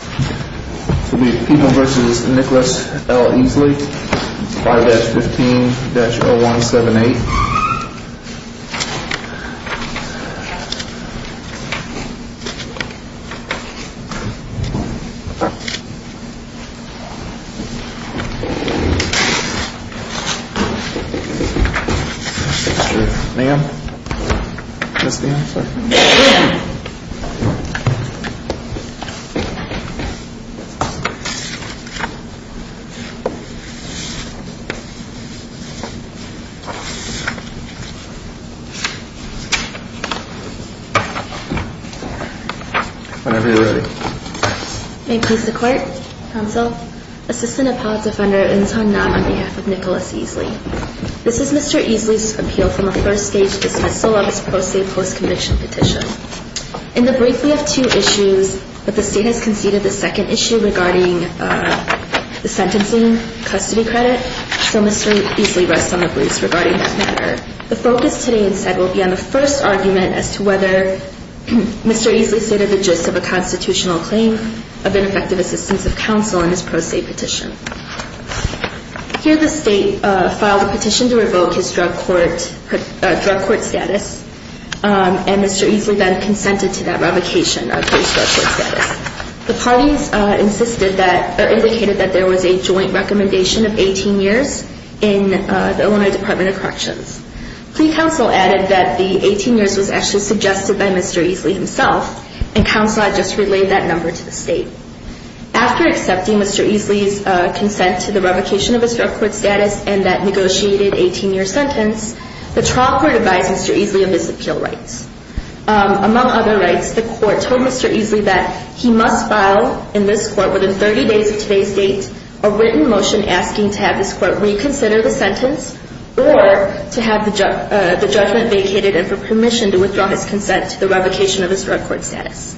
People v. Nicholas L. Easley, 5-15-0178 Ma'am Yes, ma'am, sir Whenever you're ready May it please the Court, Counsel, Assistant Appellate Defender Inz Honnab on behalf of Nicholas Easley This is Mr. Easley's appeal from the first stage to dismiss the Lovis Pro Se post-conviction petition In the brief, we have two issues, but the State has conceded the second issue regarding the sentencing custody credit So Mr. Easley rests on the bruise regarding that matter The focus today, instead, will be on the first argument as to whether Mr. Easley stated the gist of a constitutional claim of ineffective assistance of counsel in his pro se petition Here the State filed a petition to revoke his drug court status And Mr. Easley then consented to that revocation of his drug court status The parties indicated that there was a joint recommendation of 18 years in the Illinois Department of Corrections Pre-counsel added that the 18 years was actually suggested by Mr. Easley himself And counsel had just relayed that number to the State After accepting Mr. Easley's consent to the revocation of his drug court status and that negotiated 18-year sentence The trial court advised Mr. Easley of his appeal rights Among other rights, the court told Mr. Easley that he must file in this court within 30 days of today's date a written motion asking to have this court reconsider the sentence or to have the judgment vacated and for permission to withdraw his consent to the revocation of his drug court status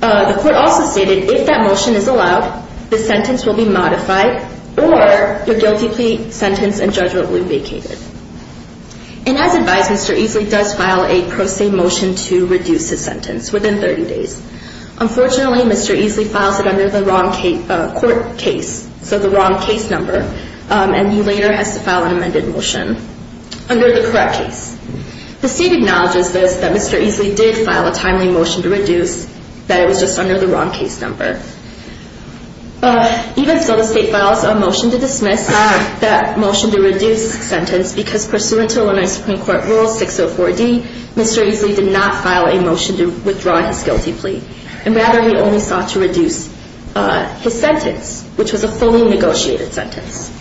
The court also stated if that motion is allowed, the sentence will be modified or the guilty plea sentence and judgment will be vacated And as advised, Mr. Easley does file a pro se motion to reduce his sentence within 30 days Unfortunately, Mr. Easley files it under the wrong court case, so the wrong case number And he later has to file an amended motion under the correct case The State acknowledges this, that Mr. Easley did file a timely motion to reduce that it was just under the wrong case number Even so, the State files a motion to dismiss that motion to reduce sentence because pursuant to Illinois Supreme Court Rule 604D, Mr. Easley did not file a motion to withdraw his guilty plea And rather he only sought to reduce his sentence, which was a fully negotiated sentence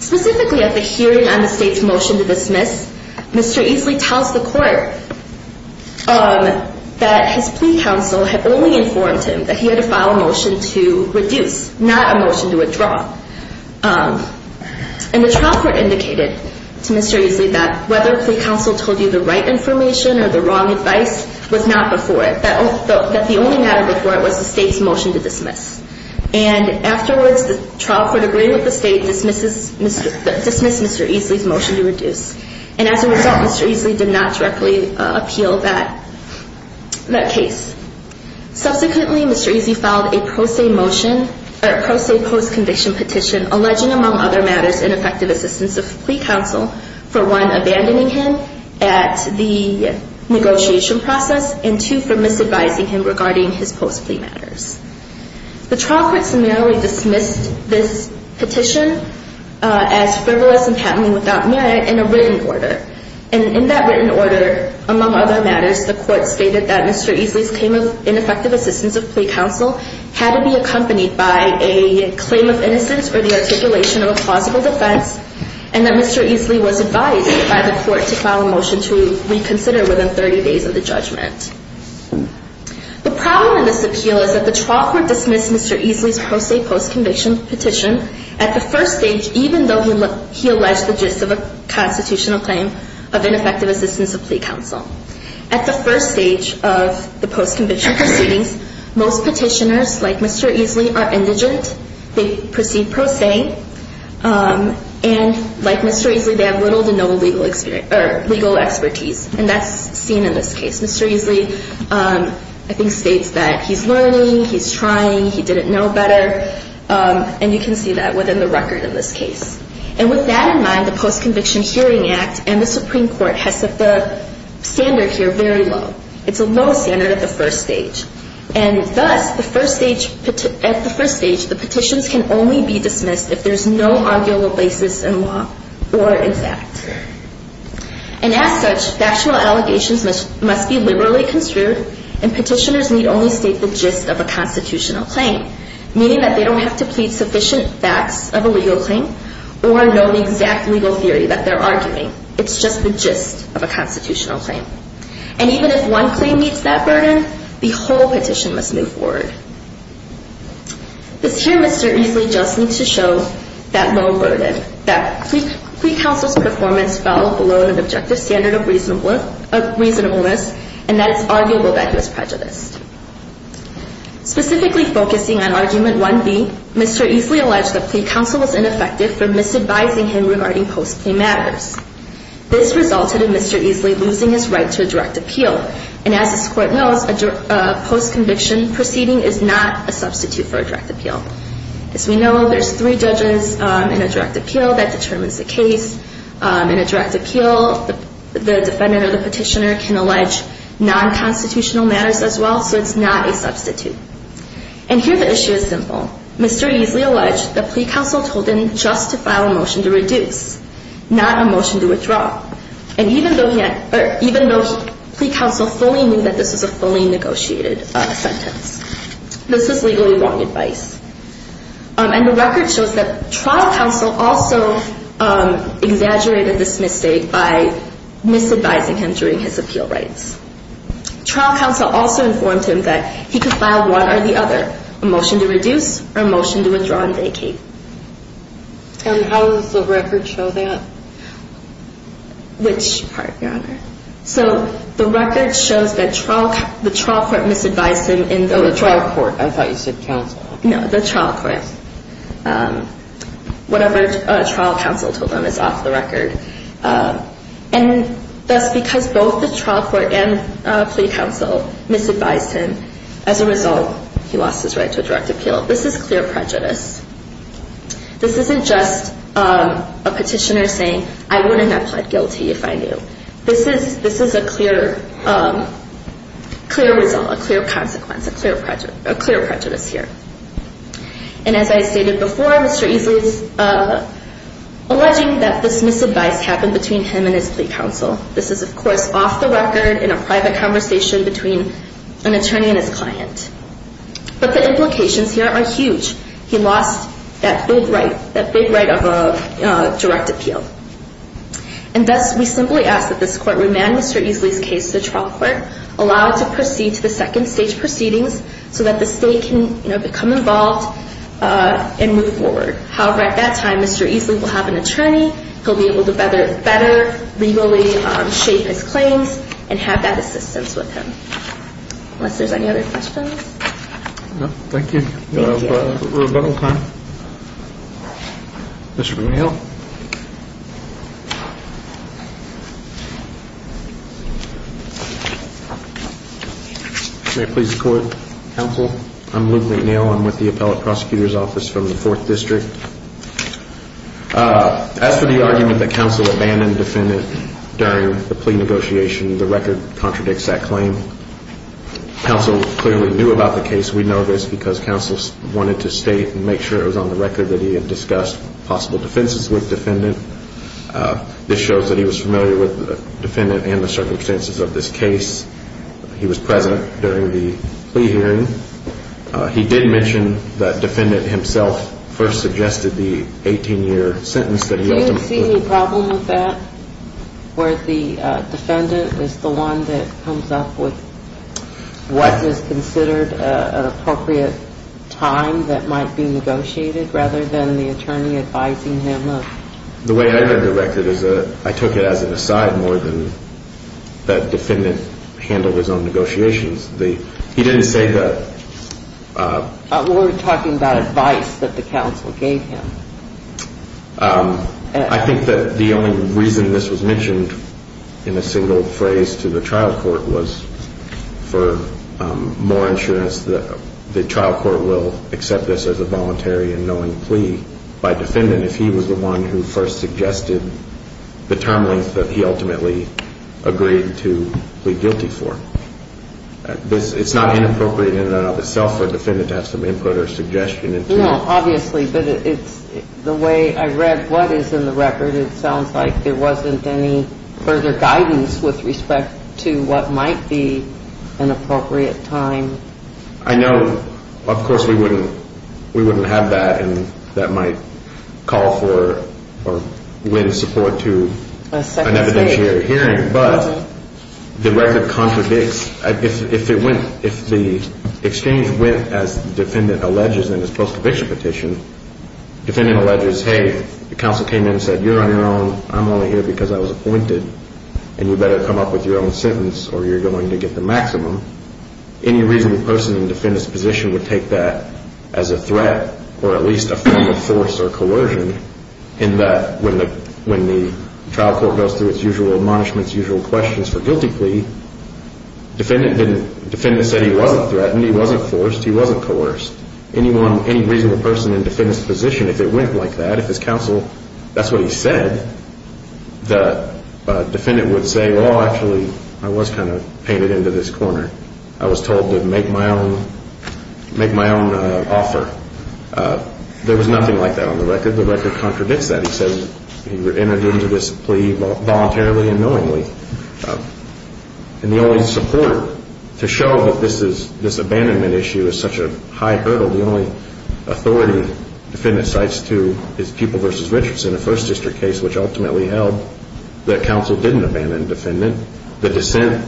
Specifically at the hearing on the State's motion to dismiss, Mr. Easley tells the court that his plea counsel had only informed him that he had to file a motion to reduce, not a motion to withdraw And the trial court indicated to Mr. Easley that whether plea counsel told you the right information or the wrong advice was not before it, that the only matter before it was the State's motion to dismiss And afterwards, the trial court agreed with the State to dismiss Mr. Easley's motion to reduce And as a result, Mr. Easley did not directly appeal that case Subsequently, Mr. Easley filed a pro se motion, or a pro se post conviction petition alleging, among other matters, ineffective assistance of plea counsel for one, abandoning him at the negotiation process and two, for misadvising him regarding his post plea matters The trial court summarily dismissed this petition as frivolous and patently without merit in a written order And in that written order, among other matters, the court stated that Mr. Easley's ineffective assistance of plea counsel had to be accompanied by a claim of innocence or the articulation of a plausible defense And that Mr. Easley was advised by the court to file a motion to reconsider within 30 days of the judgment The problem in this appeal is that the trial court dismissed Mr. Easley's pro se post conviction petition at the first stage, even though he alleged the gist of a constitutional claim of ineffective assistance of plea counsel At the first stage of the post conviction proceedings, most petitioners, like Mr. Easley, are indigent They proceed pro se, and like Mr. Easley, they have little to no legal expertise And that's seen in this case. Mr. Easley, I think, states that he's learning, he's trying, he didn't know better And you can see that within the record in this case And with that in mind, the Post Conviction Hearing Act and the Supreme Court has set the standard here very low It's a low standard at the first stage And thus, at the first stage, the petitions can only be dismissed if there's no arguable basis in law or in fact And as such, factual allegations must be liberally construed And petitioners need only state the gist of a constitutional claim Meaning that they don't have to plead sufficient facts of a legal claim Or know the exact legal theory that they're arguing It's just the gist of a constitutional claim And even if one claim meets that burden, the whole petition must move forward This here, Mr. Easley just needs to show that low burden That plea counsel's performance fell below an objective standard of reasonableness And that it's arguable that he was prejudiced Specifically focusing on Argument 1B, Mr. Easley alleged that plea counsel was ineffective for misadvising him regarding post-claim matters This resulted in Mr. Easley losing his right to a direct appeal And as this Court knows, a post-conviction proceeding is not a substitute for a direct appeal As we know, there's three judges in a direct appeal that determines the case In a direct appeal, the defendant or the petitioner can allege non-constitutional matters as well So it's not a substitute And here the issue is simple Mr. Easley alleged that plea counsel told him just to file a motion to reduce, not a motion to withdraw And even though plea counsel fully knew that this was a fully negotiated sentence This is legally wrong advice And the record shows that trial counsel also exaggerated this mistake by misadvising him during his appeal rights Trial counsel also informed him that he could file one or the other A motion to reduce or a motion to withdraw and vacate And how does the record show that? Which part, Your Honor? So the record shows that the trial court misadvised him in those Oh, the trial court. I thought you said counsel No, the trial court Whatever trial counsel told him is off the record And thus, because both the trial court and plea counsel misadvised him As a result, he lost his right to a direct appeal This is clear prejudice This isn't just a petitioner saying, I wouldn't have pled guilty if I knew This is a clear result, a clear consequence, a clear prejudice here And as I stated before, Mr. Easley is alleging that this misadvice happened between him and his plea counsel This is, of course, off the record in a private conversation between an attorney and his client But the implications here are huge He lost that big right of a direct appeal And thus, we simply ask that this court remand Mr. Easley's case to the trial court Allow it to proceed to the second stage proceedings So that the state can, you know, become involved and move forward However, at that time, Mr. Easley will have an attorney He'll be able to better legally shape his claims and have that assistance with him Unless there's any other questions? Thank you for your rebuttal time Mr. McNeil May it please the court, counsel I'm Luke McNeil, I'm with the Appellate Prosecutor's Office from the 4th District As for the argument that counsel abandoned defendant during the plea negotiation The record contradicts that claim Counsel clearly knew about the case We know this because counsel wanted to state and make sure it was on the record That he had discussed possible defenses with defendant This shows that he was familiar with the defendant and the circumstances of this case He was present during the plea hearing He did mention that defendant himself first suggested the 18-year sentence that he ultimately Do you see any problem with that? Where the defendant is the one that comes up with What is considered an appropriate time that might be negotiated Rather than the attorney advising him The way I read the record is that I took it as an aside more than That defendant handled his own negotiations He didn't say that We're talking about advice that the counsel gave him I think that the only reason this was mentioned in a single phrase to the trial court was For more insurance that the trial court will accept this as a voluntary and knowing plea By defendant if he was the one who first suggested The term length that he ultimately agreed to plead guilty for It's not inappropriate in and of itself for defendant to have some input or suggestion Obviously, but it's the way I read what is in the record It sounds like there wasn't any further guidance with respect to what might be an appropriate time I know of course we wouldn't have that And that might call for or win support to an evidentiary hearing But the record contradicts If the exchange went as the defendant alleges in his post-conviction petition Defendant alleges, hey, the counsel came in and said you're on your own I'm only here because I was appointed And you better come up with your own sentence or you're going to get the maximum Any reasonable person in the defendant's position would take that as a threat Or at least a form of force or coercion In that when the trial court goes through its usual admonishments, usual questions for guilty plea Defendant said he wasn't threatened, he wasn't forced, he wasn't coerced Any reasonable person in the defendant's position, if it went like that If his counsel, that's what he said The defendant would say, well actually I was kind of painted into this corner I was told to make my own offer There was nothing like that on the record The record contradicts that He entered into this plea voluntarily and knowingly And the only support to show that this abandonment issue is such a high hurdle The only authority defendant cites to is Pupil v. Richardson, a First District case Which ultimately held that counsel didn't abandon defendant The dissent,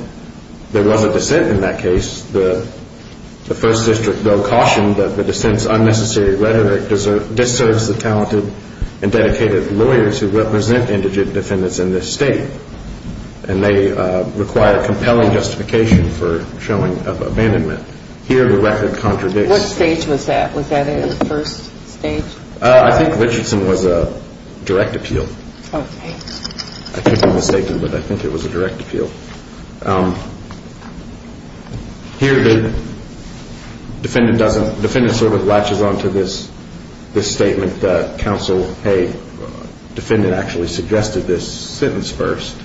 there was a dissent in that case The First District though cautioned that the dissent's unnecessary rhetoric Disserves the talented and dedicated lawyers who represent indigent defendants in this state And they require compelling justification for showing of abandonment Here the record contradicts What stage was that? Was that in the first stage? I think Richardson was a direct appeal I could be mistaken but I think it was a direct appeal Here the defendant sort of latches on to this statement That counsel, hey, defendant actually suggested this sentence first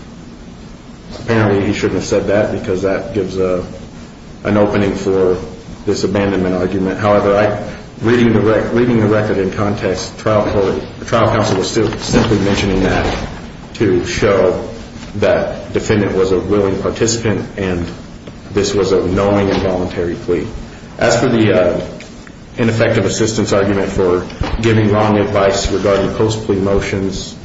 Apparently he shouldn't have said that because that gives an opening for this abandonment argument However, reading the record in context The trial counsel was still simply mentioning that To show that defendant was a willing participant And this was a knowing and voluntary plea As for the ineffective assistance argument for giving wrong advice regarding post-plea motions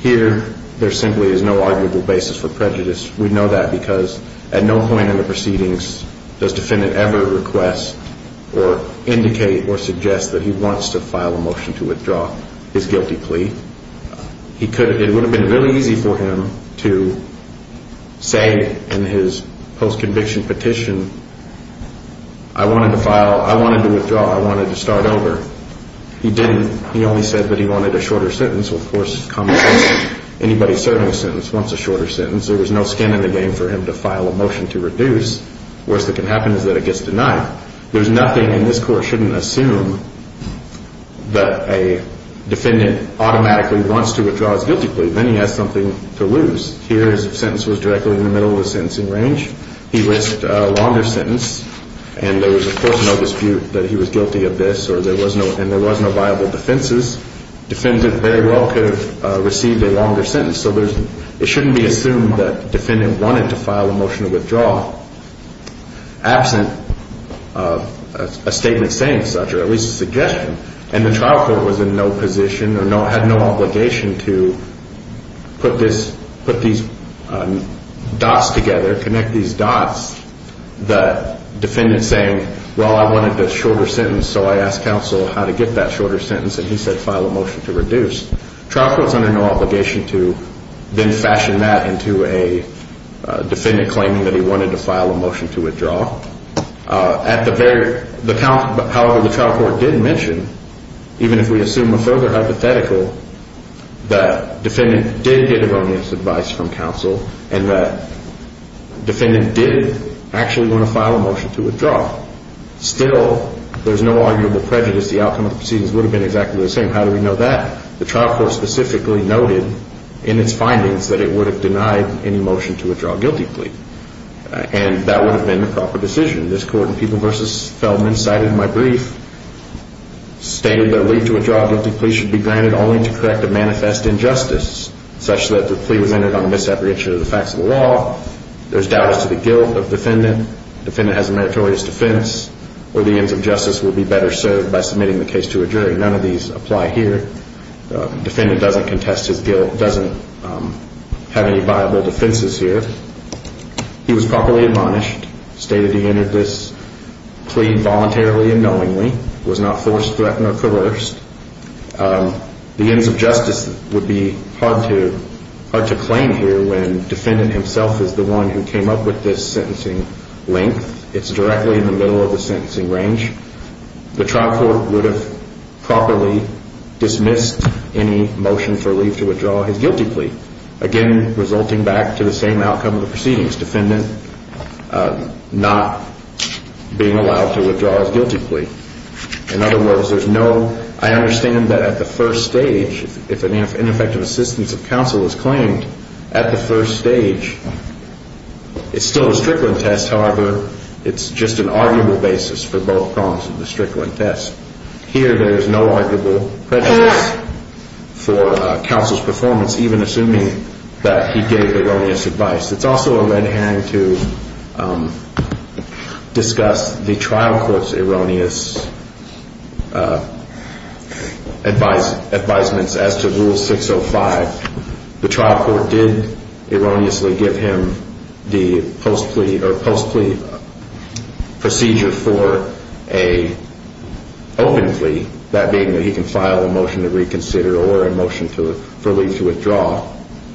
Here there simply is no arguable basis for prejudice We know that because at no point in the proceedings does defendant ever request Or indicate or suggest that he wants to file a motion to withdraw his guilty plea It would have been really easy for him to say in his post-conviction petition I wanted to file, I wanted to withdraw, I wanted to start over He only said that he wanted a shorter sentence Of course, anybody serving a sentence wants a shorter sentence There was no skin in the game for him to file a motion to reduce Worst that can happen is that it gets denied There's nothing in this court shouldn't assume That a defendant automatically wants to withdraw his guilty plea Then he has something to lose Here his sentence was directly in the middle of the sentencing range He risked a longer sentence And there was of course no dispute that he was guilty of this And there was no viable defenses Defendant very well could have received a longer sentence So it shouldn't be assumed that the defendant wanted to file a motion to withdraw Absent a statement saying such, or at least a suggestion And the trial court was in no position or had no obligation to put these dots together Connect these dots The defendant saying, well I wanted the shorter sentence So I asked counsel how to get that shorter sentence And he said file a motion to reduce Trial court's under no obligation to then fashion that into a defendant claiming that he wanted to file a motion to withdraw However, the trial court did mention Even if we assume a further hypothetical That defendant did get erroneous advice from counsel And that defendant did actually want to file a motion to withdraw Still, there's no arguable prejudice The outcome of the proceedings would have been exactly the same How do we know that? The trial court specifically noted in its findings That it would have denied any motion to withdraw a guilty plea And that would have been the proper decision This court in People v. Feldman cited in my brief Stated that a plea to withdraw a guilty plea should be granted only to correct a manifest injustice Such that the plea was ended on a misapprehension of the facts of the law There's doubt as to the guilt of defendant Defendant has a meritorious defense Or the ends of justice would be better served by submitting the case to a jury None of these apply here Defendant doesn't contest his guilt Doesn't have any viable defenses here He was properly admonished Stated he entered this plea voluntarily and knowingly Was not forced, threatened, or coerced The ends of justice would be hard to claim here When defendant himself is the one who came up with this sentencing length It's directly in the middle of the sentencing range The trial court would have properly dismissed any motion for leave to withdraw his guilty plea Again, resulting back to the same outcome of the proceedings Defendant not being allowed to withdraw his guilty plea In other words, there's no I understand that at the first stage If an ineffective assistance of counsel is claimed At the first stage It's still a Strickland test However, it's just an arguable basis for both prongs of the Strickland test Here, there's no arguable prejudice For counsel's performance Even assuming that he gave erroneous advice It's also a lead hand to Discuss the trial court's erroneous Advise, advisements as to Rule 605 The trial court did erroneously give him The post plea or post plea Procedure for a Open plea That being that he can file a motion to reconsider or a motion to For leave to withdraw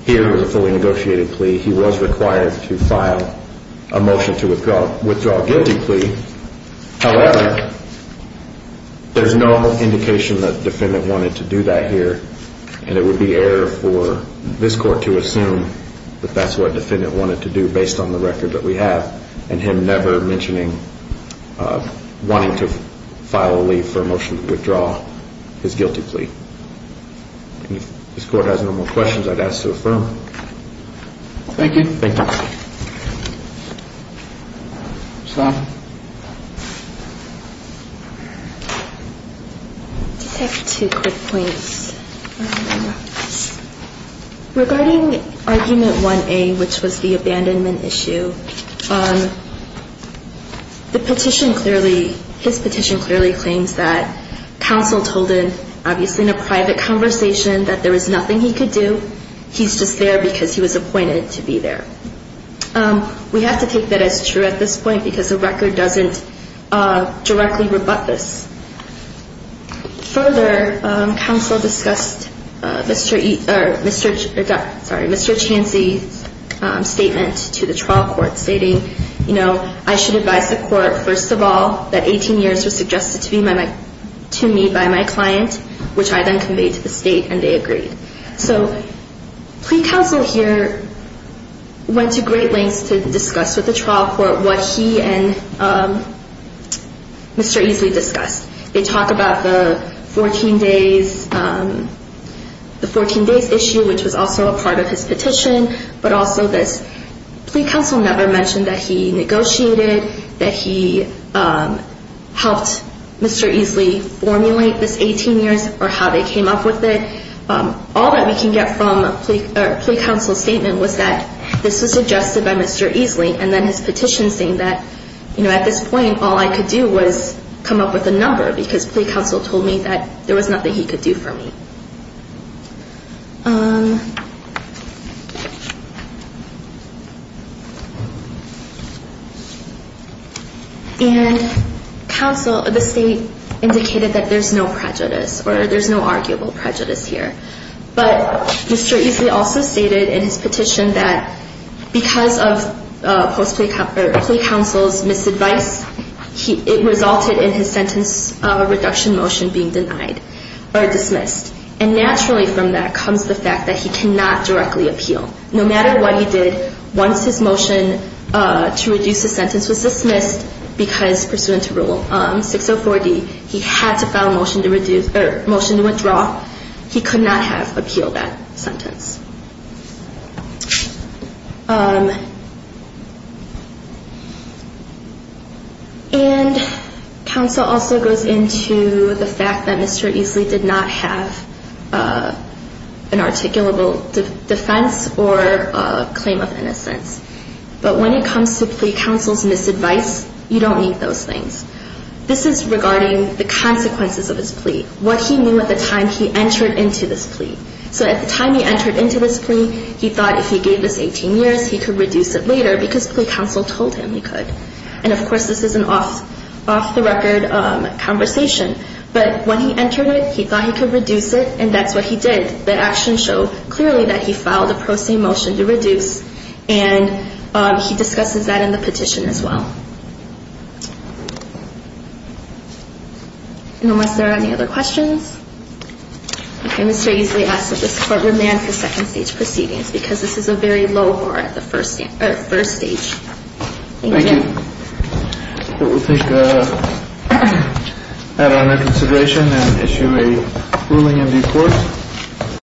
Here was a fully negotiated plea He was required to file A motion to withdraw Withdraw guilty plea However There's no indication that defendant wanted to do that here And it would be error for this court to assume That that's what defendant wanted to do based on the record that we have And him never mentioning Wanting to file a leave for a motion to withdraw His guilty plea If this court has no more questions, I'd ask to affirm Thank you Thank you Just have two quick points Regarding argument 1A Which was the abandonment issue The petition clearly His petition clearly claims that Counsel told him Obviously in a private conversation that there was nothing he could do He's just there because he was appointed to be there We have to take that as true at this point Because the record doesn't directly rebut this Further Counsel discussed Mr. Chansey's statement To the trial court stating I should advise the court First of all That 18 years was suggested to me by my client Which I then conveyed to the state And they agreed So plea counsel here Went to great lengths to discuss with the trial court What he and Mr. Easley discussed They talked about the 14 days The 14 days issue Which was also a part of his petition But also this Plea counsel never mentioned that he negotiated That he Helped Mr. Easley formulate this 18 years Or how they came up with it All that we can get from a plea counsel statement Was that this was suggested by Mr. Easley And then his petition saying that At this point all I could do was Come up with a number Because plea counsel told me that There was nothing he could do for me And Counsel The state Indicated that there's no prejudice Or there's no arguable prejudice here But Mr. Easley also stated in his petition that Because of Plea counsel's misadvice It resulted in his sentence Reduction motion being denied Or dismissed And naturally from that comes the fact that He cannot directly appeal No matter what he did Once his motion To reduce his sentence was dismissed Because pursuant to Rule 604D He had to file a motion to withdraw He could not have appealed that sentence And Counsel also goes into the fact that Mr. Easley did not have An articulable defense Or a claim of innocence But when it comes to plea counsel's misadvice You don't need those things This is regarding the consequences of his plea What he knew at the time he entered into this plea So at the time he entered into this plea He thought if he gave this 18 years He could reduce it later Because plea counsel told him he could And of course this is an off the record conversation But when he entered it He thought he could reduce it And that's what he did The actions show clearly that he filed A pro se motion to reduce And he discusses that in the petition as well Unless there are any other questions Okay Mr. Easley asks that this court Remand for second stage proceedings Because this is a very low bar At first stage Thank you We'll take that into consideration And issue a ruling in due course